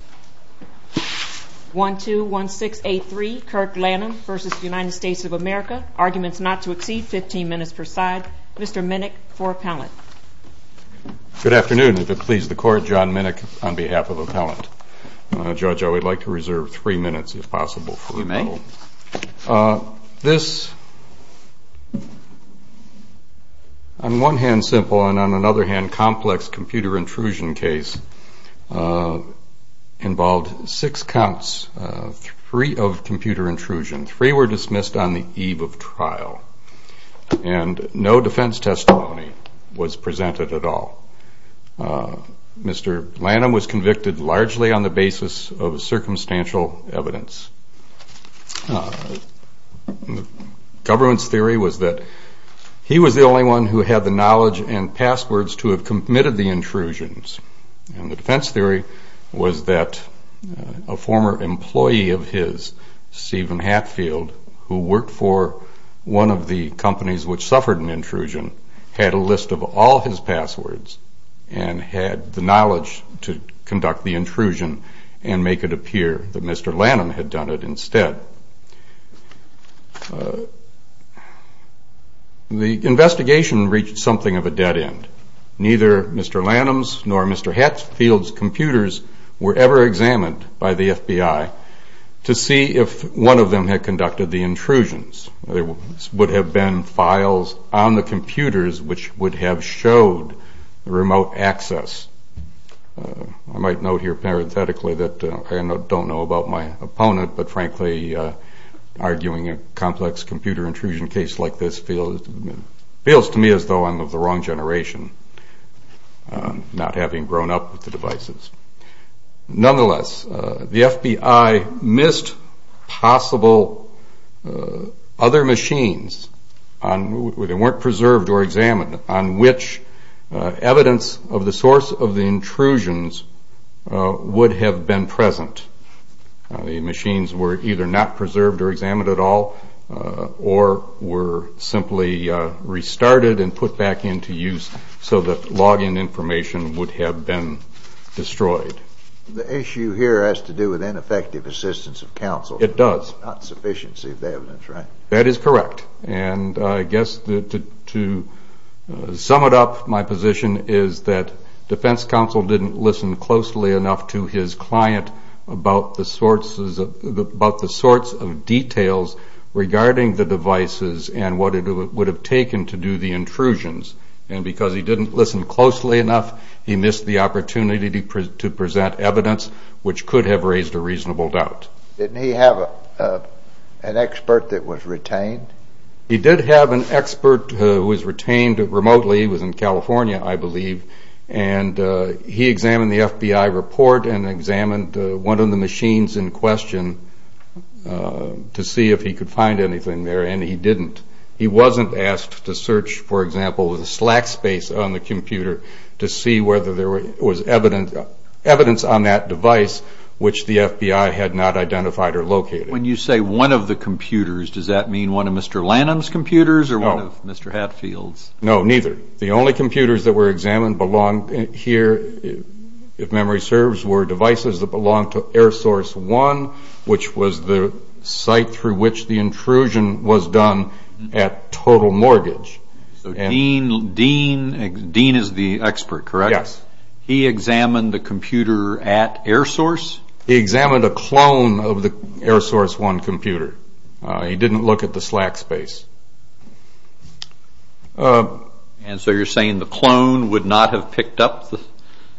v. United States of America. Arguments not to exceed 15 minutes per side. Mr. Minnick for appellant. Good afternoon. If it pleases the court, John Minnick on behalf of appellant. Judge, I would like to reserve three minutes if possible for appellant. You may. This, on one hand simple and on another hand complex computer intrusion case, involved six counts, three of computer intrusion. Three were dismissed on the eve of trial. And no defense testimony was presented at all. Mr. Lanam was convicted largely on the basis of circumstantial evidence. The government's theory was that he was the only one who had the knowledge and passwords to have committed the intrusions. And the defense theory was that a former employee of his, Stephen Hatfield, who worked for one of the companies which suffered an intrusion, had a list of all his passwords and had the knowledge to conduct the intrusion and make it appear that Mr. Lanam had done it instead. The investigation reached something of a dead end. Neither Mr. Lanam's nor Mr. Hatfield's computers were ever examined by the FBI to see if one of them had conducted the intrusions. There would have been files on the computers which would have showed remote access. I might note here parenthetically that I don't know about my opponent, but, frankly, arguing a complex computer intrusion case like this feels to me as though I'm of the wrong generation, not having grown up with the devices. Nonetheless, the FBI missed possible other machines where they weren't preserved or examined on which evidence of the source of the intrusions would have been present. The machines were either not preserved or examined at all or were simply restarted and put back into use so that login information would have been destroyed. The issue here has to do with ineffective assistance of counsel. It does. Not sufficiency of evidence, right? That is correct. And I guess to sum it up, my position is that defense counsel didn't listen closely enough to his client about the sorts of details regarding the devices and what it would have taken to do the intrusions. And because he didn't listen closely enough, he missed the opportunity to present evidence which could have raised a reasonable doubt. Didn't he have an expert that was retained? He did have an expert who was retained remotely. He was in California, I believe. And he examined the FBI report and examined one of the machines in question to see if he could find anything there, and he didn't. He wasn't asked to search, for example, the Slack space on the computer to see whether there was evidence on that device which the FBI had not identified or located. When you say one of the computers, does that mean one of Mr. Lanham's computers or one of Mr. Hatfield's? No, neither. The only computers that were examined here, if memory serves, were devices that belonged to Air Source One, which was the site through which the intrusion was done at total mortgage. So Dean is the expert, correct? Yes. He examined the computer at Air Source? He examined a clone of the Air Source One computer. He didn't look at the Slack space. And so you're saying the clone would not have picked up?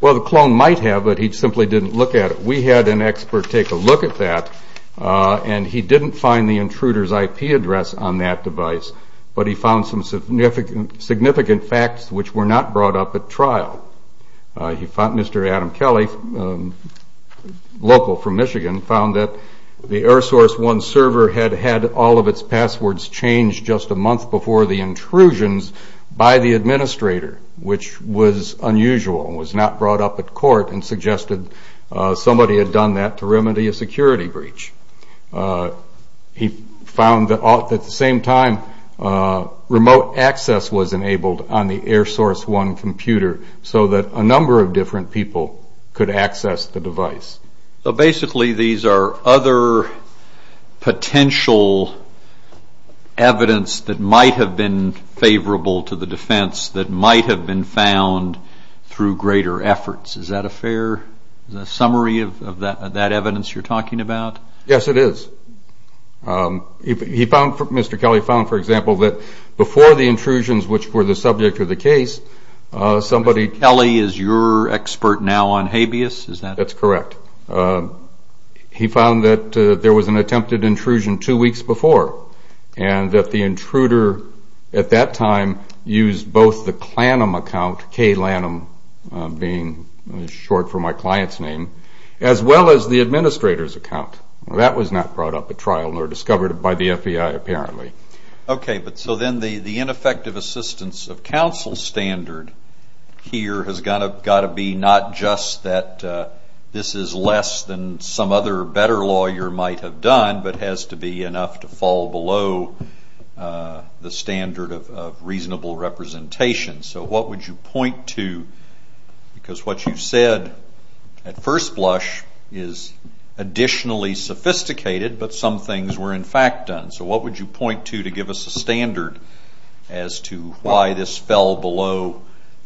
Well, the clone might have, but he simply didn't look at it. We had an expert take a look at that, and he didn't find the intruder's IP address on that device, but he found some significant facts which were not brought up at trial. Mr. Adam Kelly, local from Michigan, found that the Air Source One server had had all of its passwords changed just a month before the intrusions by the administrator, which was unusual and was not brought up at court, and suggested somebody had done that to remedy a security breach. He found that at the same time, remote access was enabled on the Air Source One computer so that a number of different people could access the device. So basically, these are other potential evidence that might have been favorable to the defense that might have been found through greater efforts. Is that a fair summary of that evidence you're talking about? Yes, it is. Mr. Kelly found, for example, that before the intrusions, which were the subject of the case, somebody... Mr. Kelly is your expert now on habeas? That's correct. He found that there was an attempted intrusion two weeks before and that the intruder at that time used both the KLANM account, KLANM being short for my client's name, as well as the administrator's account. That was not brought up at trial nor discovered by the FBI, apparently. Okay, but so then the ineffective assistance of counsel standard here has got to be not just that this is less than some other better lawyer might have done, but has to be enough to fall below the standard of reasonable representation. So what would you point to? Because what you said at first blush is additionally sophisticated, but some things were in fact done. So what would you point to to give us a standard as to why this fell below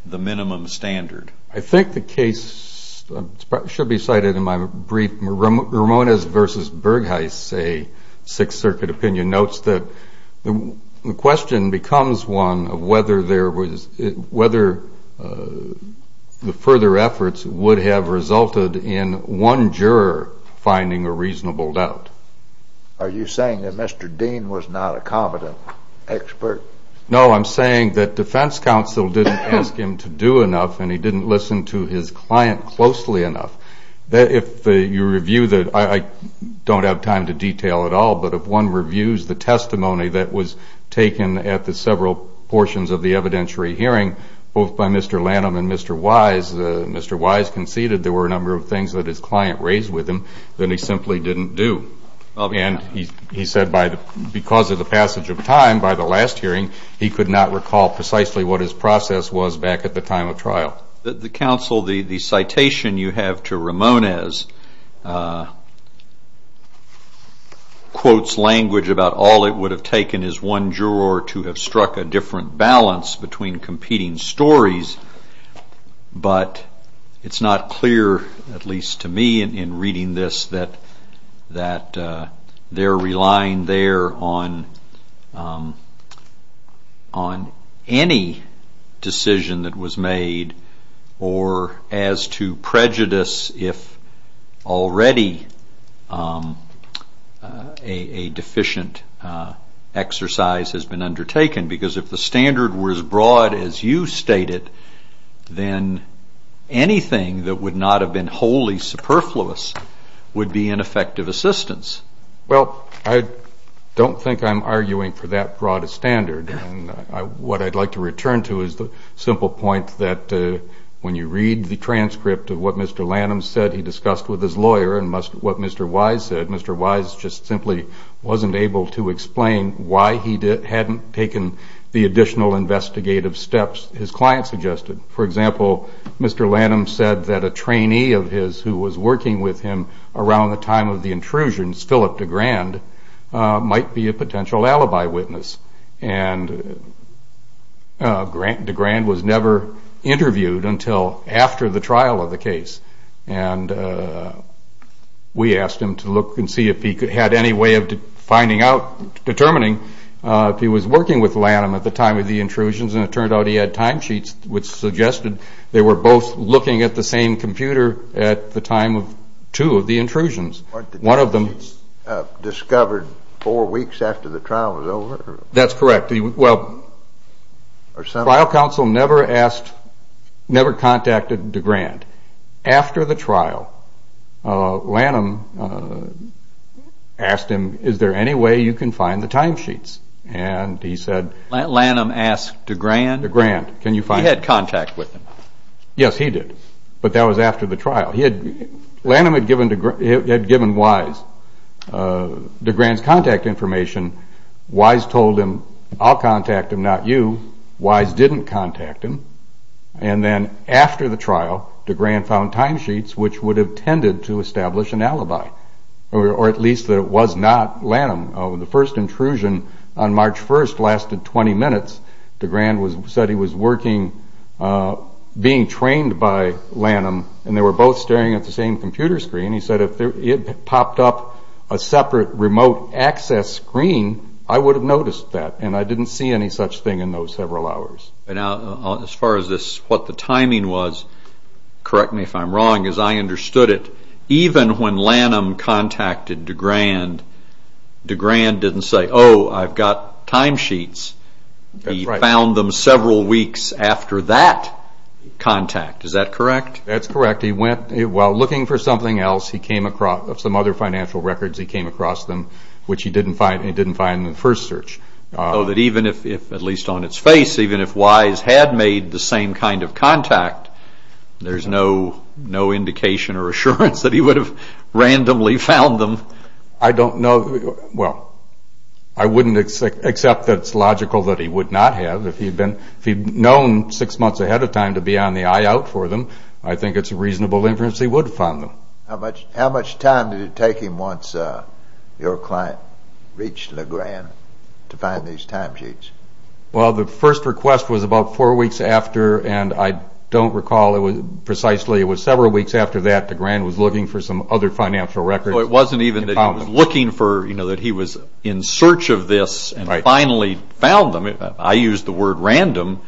the minimum standard? I think the case should be cited in my brief Ramones v. Bergheis, a Sixth Circuit opinion, notes that the question becomes one of whether the further efforts would have resulted in one juror finding a reasonable doubt. Are you saying that Mr. Dean was not a competent expert? No, I'm saying that defense counsel didn't ask him to do enough and he didn't listen to his client closely enough. If you review the, I don't have time to detail it all, but if one reviews the testimony that was taken at the several portions of the evidentiary hearing, both by Mr. Lanham and Mr. Wise, Mr. Wise conceded there were a number of things that his client raised with him that he simply didn't do. And he said because of the passage of time by the last hearing, he could not recall precisely what his process was back at the time of trial. The counsel, the citation you have to Ramones quotes language about all it would have taken is one juror to have struck a different balance between competing stories, but it's not clear, at least to me in reading this, that they're relying there on any decision that was made or as to prejudice if already a deficient exercise has been undertaken. Because if the standard were as broad as you stated, then anything that would not have been wholly superfluous would be ineffective assistance. Well, I don't think I'm arguing for that broad a standard. What I'd like to return to is the simple point that when you read the transcript of what Mr. Lanham said he discussed with his lawyer and what Mr. Wise said, Mr. Wise just simply wasn't able to explain why he hadn't taken the additional investigative steps his client suggested. For example, Mr. Lanham said that a trainee of his who was working with him around the time of the intrusions, Philip DeGrand, might be a potential alibi witness. And DeGrand was never interviewed until after the trial of the case. And we asked him to look and see if he had any way of determining if he was working with Lanham at the time of the intrusions and it turned out he had time sheets which suggested they were both looking at the same computer at the time of two of the intrusions. One of them... Discovered four weeks after the trial was over? That's correct. Well, trial counsel never asked, never contacted DeGrand. After the trial, Lanham asked him, is there any way you can find the time sheets? And he said... Lanham asked DeGrand? DeGrand. He had contact with him. Yes, he did. But that was after the trial. Lanham had given Wise DeGrand's contact information. Wise told him, I'll contact him, not you. Wise didn't contact him. And then after the trial, DeGrand found time sheets which would have tended to establish an alibi. Or at least that it was not Lanham. The first intrusion on March 1st lasted 20 minutes. DeGrand said he was working, being trained by Lanham, and they were both staring at the same computer screen. He said if it popped up a separate remote access screen, I would have noticed that. And I didn't see any such thing in those several hours. As far as what the timing was, correct me if I'm wrong, as I understood it, even when Lanham contacted DeGrand, DeGrand didn't say, oh, I've got time sheets. He found them several weeks after that contact. Is that correct? That's correct. While looking for something else, some other financial records, he came across them, which he didn't find in the first search. So that even if, at least on its face, even if Wise had made the same kind of contact, there's no indication or assurance that he would have randomly found them? I don't know. Well, I wouldn't accept that it's logical that he would not have. If he'd known six months ahead of time to be on the eye out for them, I think it's a reasonable inference he would have found them. How much time did it take him once your client reached DeGrand to find these time sheets? Well, the first request was about four weeks after, and I don't recall precisely, it was several weeks after that DeGrand was looking for some other financial records. It wasn't even that he was looking for, you know, that he was in search of this and finally found them. I use the word random.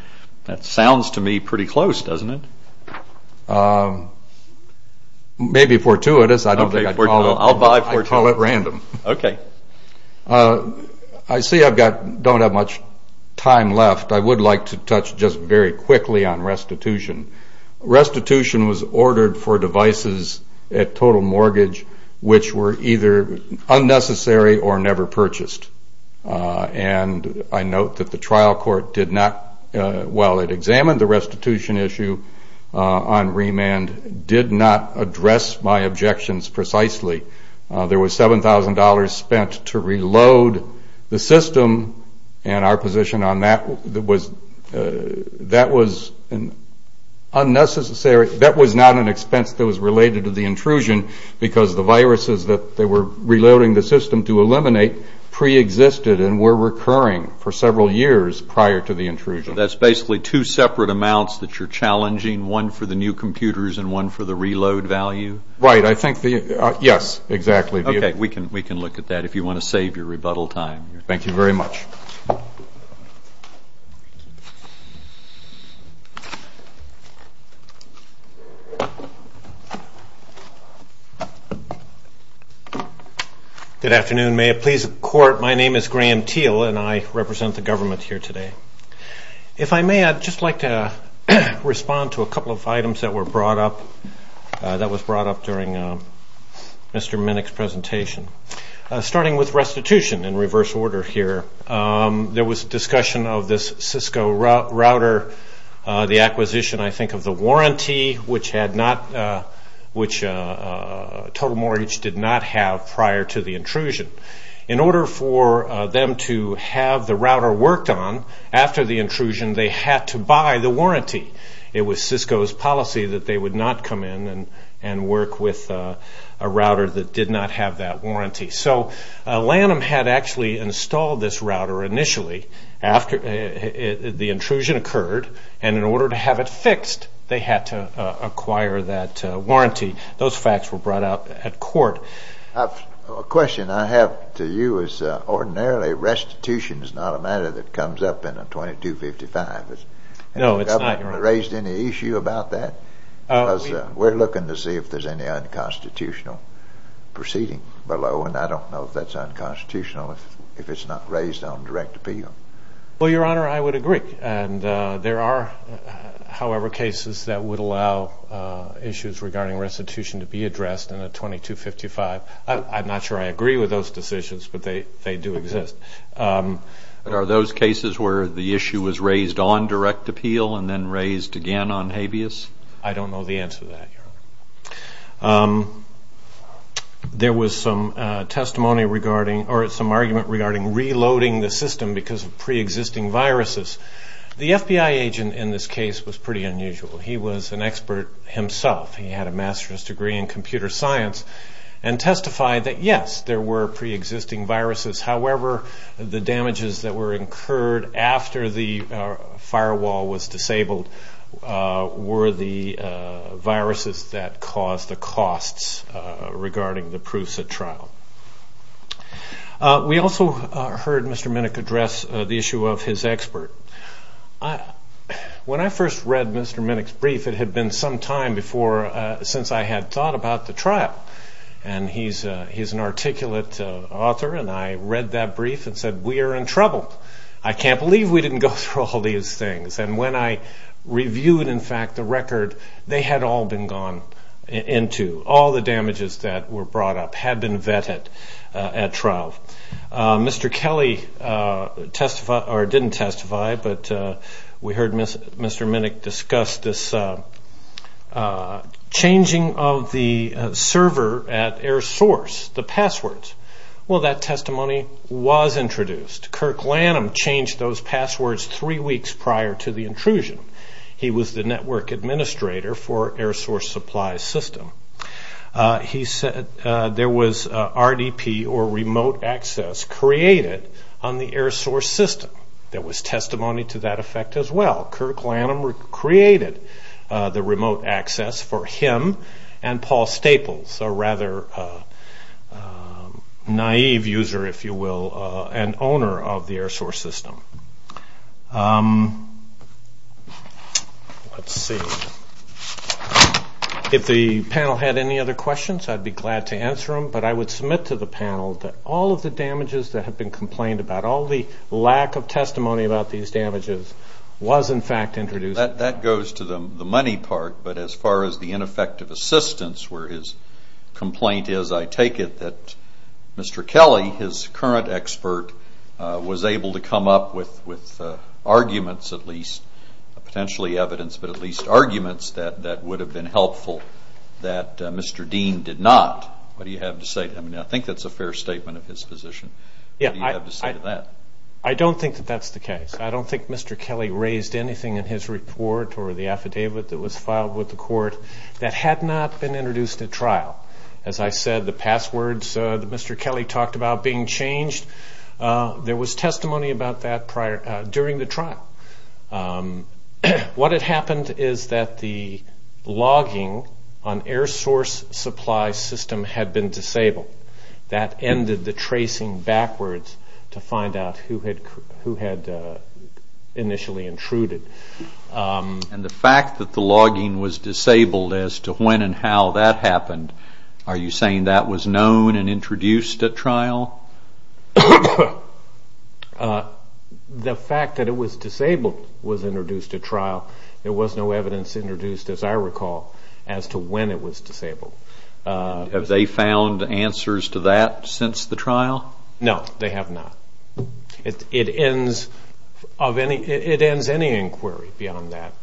That sounds to me pretty close, doesn't it? Maybe fortuitous. I'll buy fortuitous. I call it random. Okay. I see I don't have much time left. I would like to touch just very quickly on restitution. Restitution was ordered for devices at total mortgage which were either unnecessary or never purchased. And I note that the trial court did not, while it examined the restitution issue on remand, did not address my objections precisely. There was $7,000 spent to reload the system, and our position on that was that was unnecessary. That was not an expense that was related to the intrusion, because the viruses that they were reloading the system to eliminate preexisted and were recurring for several years prior to the intrusion. That's basically two separate amounts that you're challenging, one for the new computers and one for the reload value? Right. I think the yes, exactly. Okay. We can look at that if you want to save your rebuttal time. Thank you very much. Good afternoon. May it please the Court, my name is Graham Teel, and I represent the government here today. If I may, I'd just like to respond to a couple of items that were brought up, that was brought up during Mr. Minnick's presentation. Starting with restitution in reverse order here, there was discussion of this Cisco router, the acquisition I think of the warranty, which Total Mortgage did not have prior to the intrusion. In order for them to have the router worked on after the intrusion, they had to buy the warranty. It was Cisco's policy that they would not come in and work with a router that did not have that warranty. So Lanham had actually installed this router initially after the intrusion occurred, and in order to have it fixed, they had to acquire that warranty. Those facts were brought up at court. A question I have to you is ordinarily restitution is not a matter that comes up in a 2255. No, it's not, Your Honor. Has the government raised any issue about that? We're looking to see if there's any unconstitutional proceeding below, and I don't know if that's unconstitutional if it's not raised on direct appeal. Well, Your Honor, I would agree. There are, however, cases that would allow issues regarding restitution to be addressed in a 2255. I'm not sure I agree with those decisions, but they do exist. Are those cases where the issue was raised on direct appeal and then raised again on habeas? I don't know the answer to that, Your Honor. There was some argument regarding reloading the system because of preexisting viruses. The FBI agent in this case was pretty unusual. He was an expert himself. He had a master's degree in computer science and testified that, yes, there were preexisting viruses. However, the damages that were incurred after the firewall was disabled were the viruses that caused the costs regarding the Prusa trial. We also heard Mr. Minnick address the issue of his expert. When I first read Mr. Minnick's brief, it had been some time since I had thought about the trial. He's an articulate author, and I read that brief and said, We are in trouble. I can't believe we didn't go through all these things. When I reviewed, in fact, the record, they had all been gone into. All the damages that were brought up had been vetted at trial. Mr. Kelly didn't testify, but we heard Mr. Minnick discuss this changing of the server at Air Source, the passwords. Well, that testimony was introduced. Kirk Lanham changed those passwords three weeks prior to the intrusion. He was the network administrator for Air Source Supply System. He said there was RDP, or remote access, created on the Air Source system. There was testimony to that effect as well. Kirk Lanham created the remote access for him and Paul Staples, a rather naive user, if you will, and owner of the Air Source system. Let's see. If the panel had any other questions, I'd be glad to answer them, but I would submit to the panel that all of the damages that have been complained about, all the lack of testimony about these damages was, in fact, introduced. That goes to the money part, but as far as the ineffective assistance, where his complaint is, I take it, that Mr. Kelly, his current expert, was able to come up with arguments, at least, potentially evidence, but at least arguments that would have been helpful that Mr. Dean did not. What do you have to say to him? I think that's a fair statement of his position. What do you have to say to that? I don't think that that's the case. I don't think Mr. Kelly raised anything in his report or the affidavit that was filed with the court that had not been introduced at trial. As I said, the passwords that Mr. Kelly talked about being changed, there was testimony about that during the trial. What had happened is that the logging on Air Source supply system had been disabled. That ended the tracing backwards to find out who had initially intruded. And the fact that the logging was disabled as to when and how that happened, are you saying that was known and introduced at trial? The fact that it was disabled was introduced at trial. There was no evidence introduced, as I recall, as to when it was disabled. Have they found answers to that since the trial? No, they have not. It ends any inquiry beyond that.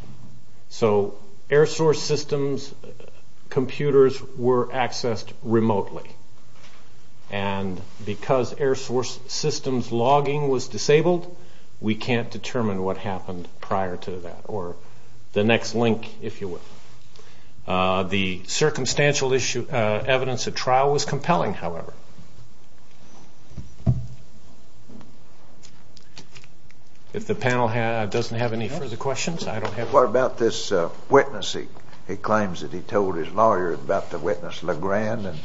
So Air Source systems computers were accessed remotely. And because Air Source systems logging was disabled, we can't determine what happened prior to that or the next link, if you will. The circumstantial evidence at trial was compelling, however. If the panel doesn't have any further questions, I don't have any. What about this witness? He claims that he told his lawyer about the witness, LeGrand, and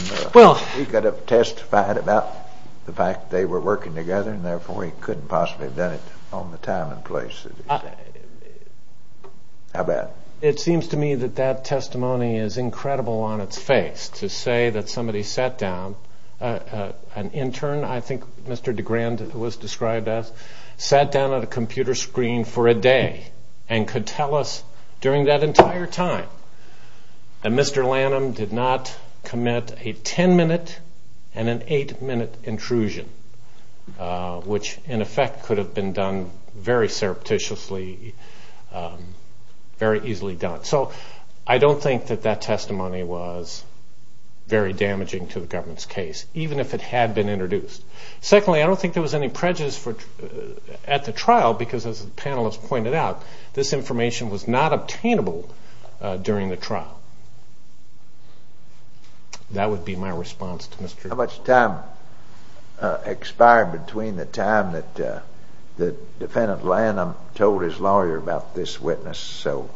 he could have testified about the fact they were working together and therefore he couldn't possibly have done it on the time and place. How bad? It seems to me that that testimony is incredible on its face, to say that somebody sat down, an intern, I think Mr. DeGrand was described as, sat down at a computer screen for a day and could tell us during that entire time that Mr. Lanham did not commit a 10-minute and an 8-minute intrusion, which in effect could have been done very surreptitiously, very easily done. So I don't think that that testimony was very damaging to the government's case, even if it had been introduced. Secondly, I don't think there was any prejudice at the trial because, as the panelists pointed out, this information was not obtainable during the trial. That would be my response to Mr. DeGrand. How much time expired between the time that the defendant Lanham told his lawyer about this witness so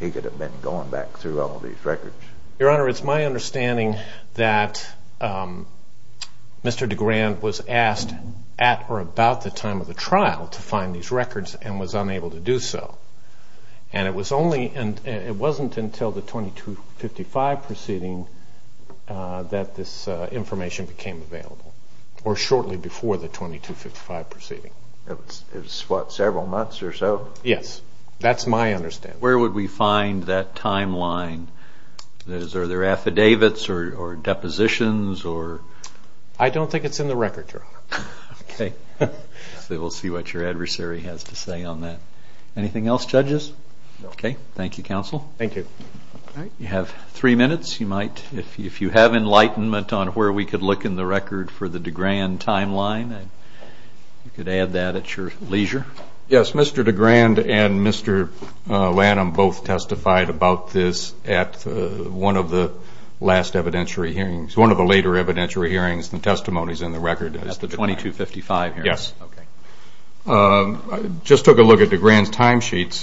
he could have been going back through all these records? Your Honor, it's my understanding that Mr. DeGrand was asked at or about the time of the trial to find these records and was unable to do so. And it wasn't until the 2255 proceeding that this information became available, or shortly before the 2255 proceeding. It was, what, several months or so? Yes. That's my understanding. Where would we find that timeline? Are there affidavits or depositions? I don't think it's in the record, Your Honor. Okay. We'll see what your adversary has to say on that. Anything else, judges? No. Okay. Thank you, counsel. Thank you. All right. You have three minutes. If you have enlightenment on where we could look in the record for the DeGrand timeline, you could add that at your leisure. Yes. Mr. DeGrand and Mr. Lanham both testified about this at one of the later evidentiary hearings. The testimony is in the record. At the 2255 hearing? Yes. Okay. I just took a look at DeGrand's timesheets.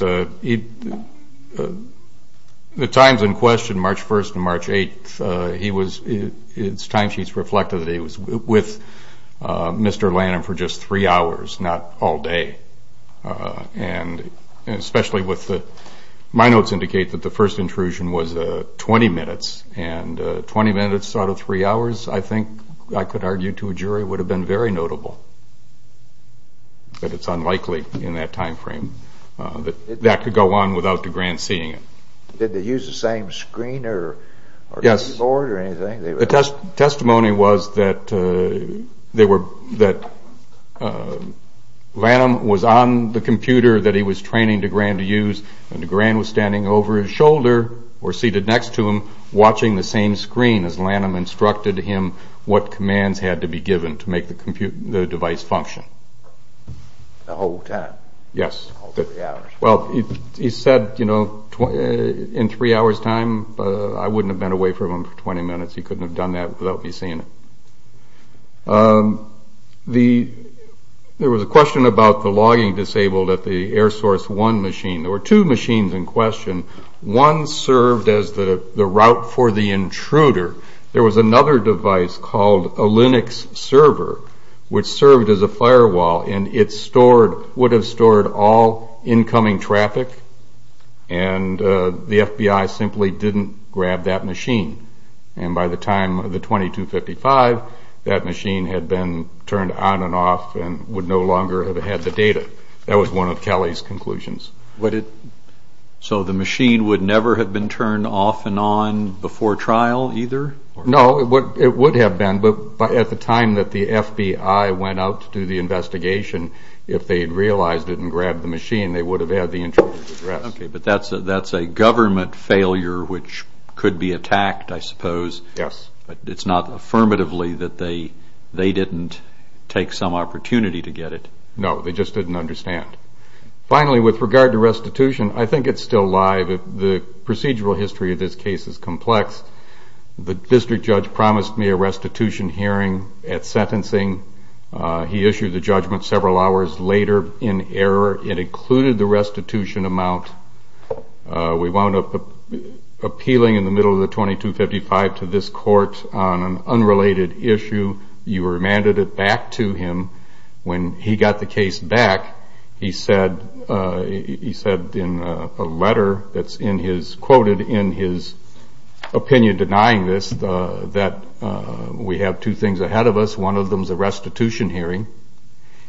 The times in question, March 1st and March 8th, his timesheets reflected that he was with Mr. Lanham for just three hours, not all day. And especially with the – my notes indicate that the first intrusion was 20 minutes. And 20 minutes out of three hours, I think I could argue to a jury, would have been very notable. But it's unlikely in that timeframe that that could go on without DeGrand seeing it. Did they use the same screen or keyboard or anything? Yes. The testimony was that Lanham was on the computer that he was training DeGrand to use and DeGrand was standing over his shoulder or seated next to him, watching the same screen as Lanham instructed him what commands had to be given to make the device function. The whole time? Yes. All three hours? Well, he said, you know, in three hours' time. I wouldn't have been away from him for 20 minutes. He couldn't have done that without me seeing it. There was a question about the logging disabled at the Air Source 1 machine. There were two machines in question. One served as the route for the intruder. There was another device called a Linux server, which served as a firewall, and it would have stored all incoming traffic, and the FBI simply didn't grab that machine. And by the time of the 2255, that machine had been turned on and off and would no longer have had the data. That was one of Kelly's conclusions. So the machine would never have been turned off and on before trial either? No, it would have been, but at the time that the FBI went out to do the investigation, if they had realized it and grabbed the machine, they would have had the intruder's address. Okay, but that's a government failure which could be attacked, I suppose. Yes. It's not affirmatively that they didn't take some opportunity to get it. No, they just didn't understand. Finally, with regard to restitution, I think it's still alive. The procedural history of this case is complex. The district judge promised me a restitution hearing at sentencing. He issued the judgment several hours later in error. It included the restitution amount. We wound up appealing in the middle of the 2255 to this court on an unrelated issue. You remanded it back to him. When he got the case back, he said in a letter that's quoted in his opinion denying this that we have two things ahead of us. One of them is a restitution hearing.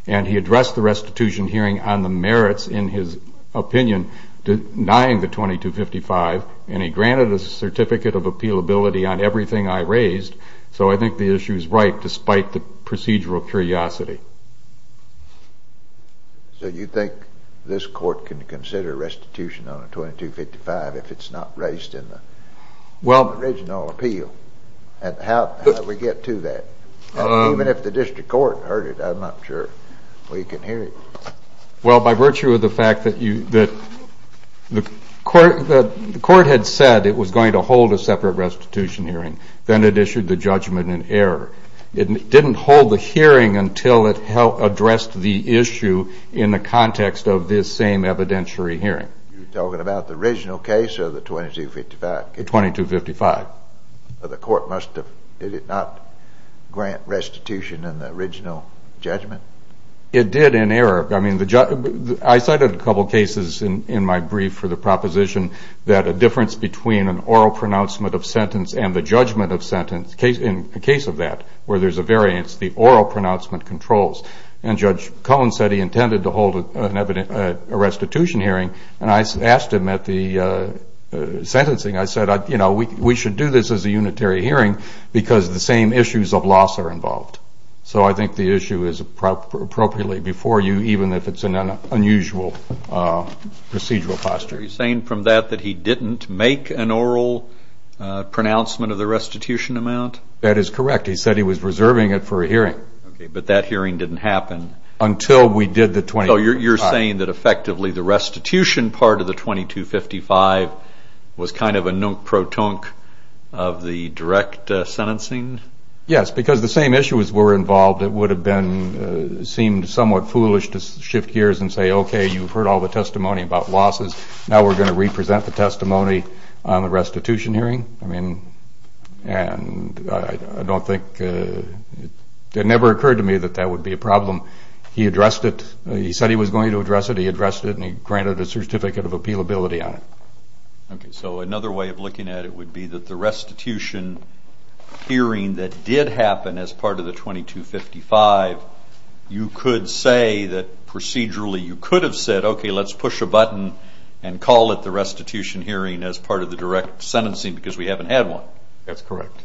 He addressed the restitution hearing on the merits in his opinion denying the 2255, and he granted a certificate of appealability on everything I raised. So I think the issue is right despite the procedural curiosity. So you think this court can consider restitution on a 2255 if it's not raised in the original appeal? How did we get to that? Even if the district court heard it, I'm not sure we can hear it. Well, by virtue of the fact that the court had said it was going to hold a separate restitution hearing. Then it issued the judgment in error. It didn't hold the hearing until it addressed the issue in the context of this same evidentiary hearing. You're talking about the original case or the 2255 case? The 2255. The court must have, did it not grant restitution in the original judgment? It did in error. I cited a couple of cases in my brief for the proposition that a difference between an oral pronouncement of sentence and the judgment of sentence, in the case of that where there's a variance, the oral pronouncement controls. And Judge Cohen said he intended to hold a restitution hearing, and I asked him at the sentencing, I said, you know, we should do this as a unitary hearing because the same issues of loss are involved. So I think the issue is appropriately before you, even if it's an unusual procedural posture. Are you saying from that that he didn't make an oral pronouncement of the restitution amount? That is correct. He said he was reserving it for a hearing. Okay, but that hearing didn't happen. Until we did the 2255. So you're saying that effectively the restitution part of the 2255 was kind of a nunk-pro-tunk of the direct sentencing? Yes, because the same issues were involved. It would have been, seemed somewhat foolish to shift gears and say, okay, you've heard all the testimony about losses. Now we're going to represent the testimony on the restitution hearing. I mean, and I don't think, it never occurred to me that that would be a problem. He addressed it. He said he was going to address it. He addressed it, and he granted a certificate of appealability on it. Okay, so another way of looking at it would be that the restitution hearing that did happen as part of the 2255, you could say that procedurally you could have said, okay, let's push a button and call it the restitution hearing as part of the direct sentencing because we haven't had one. That's correct.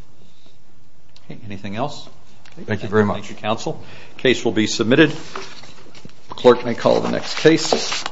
Okay, anything else? Thank you very much. Thank you, counsel. Case will be submitted. Clerk may call the next case.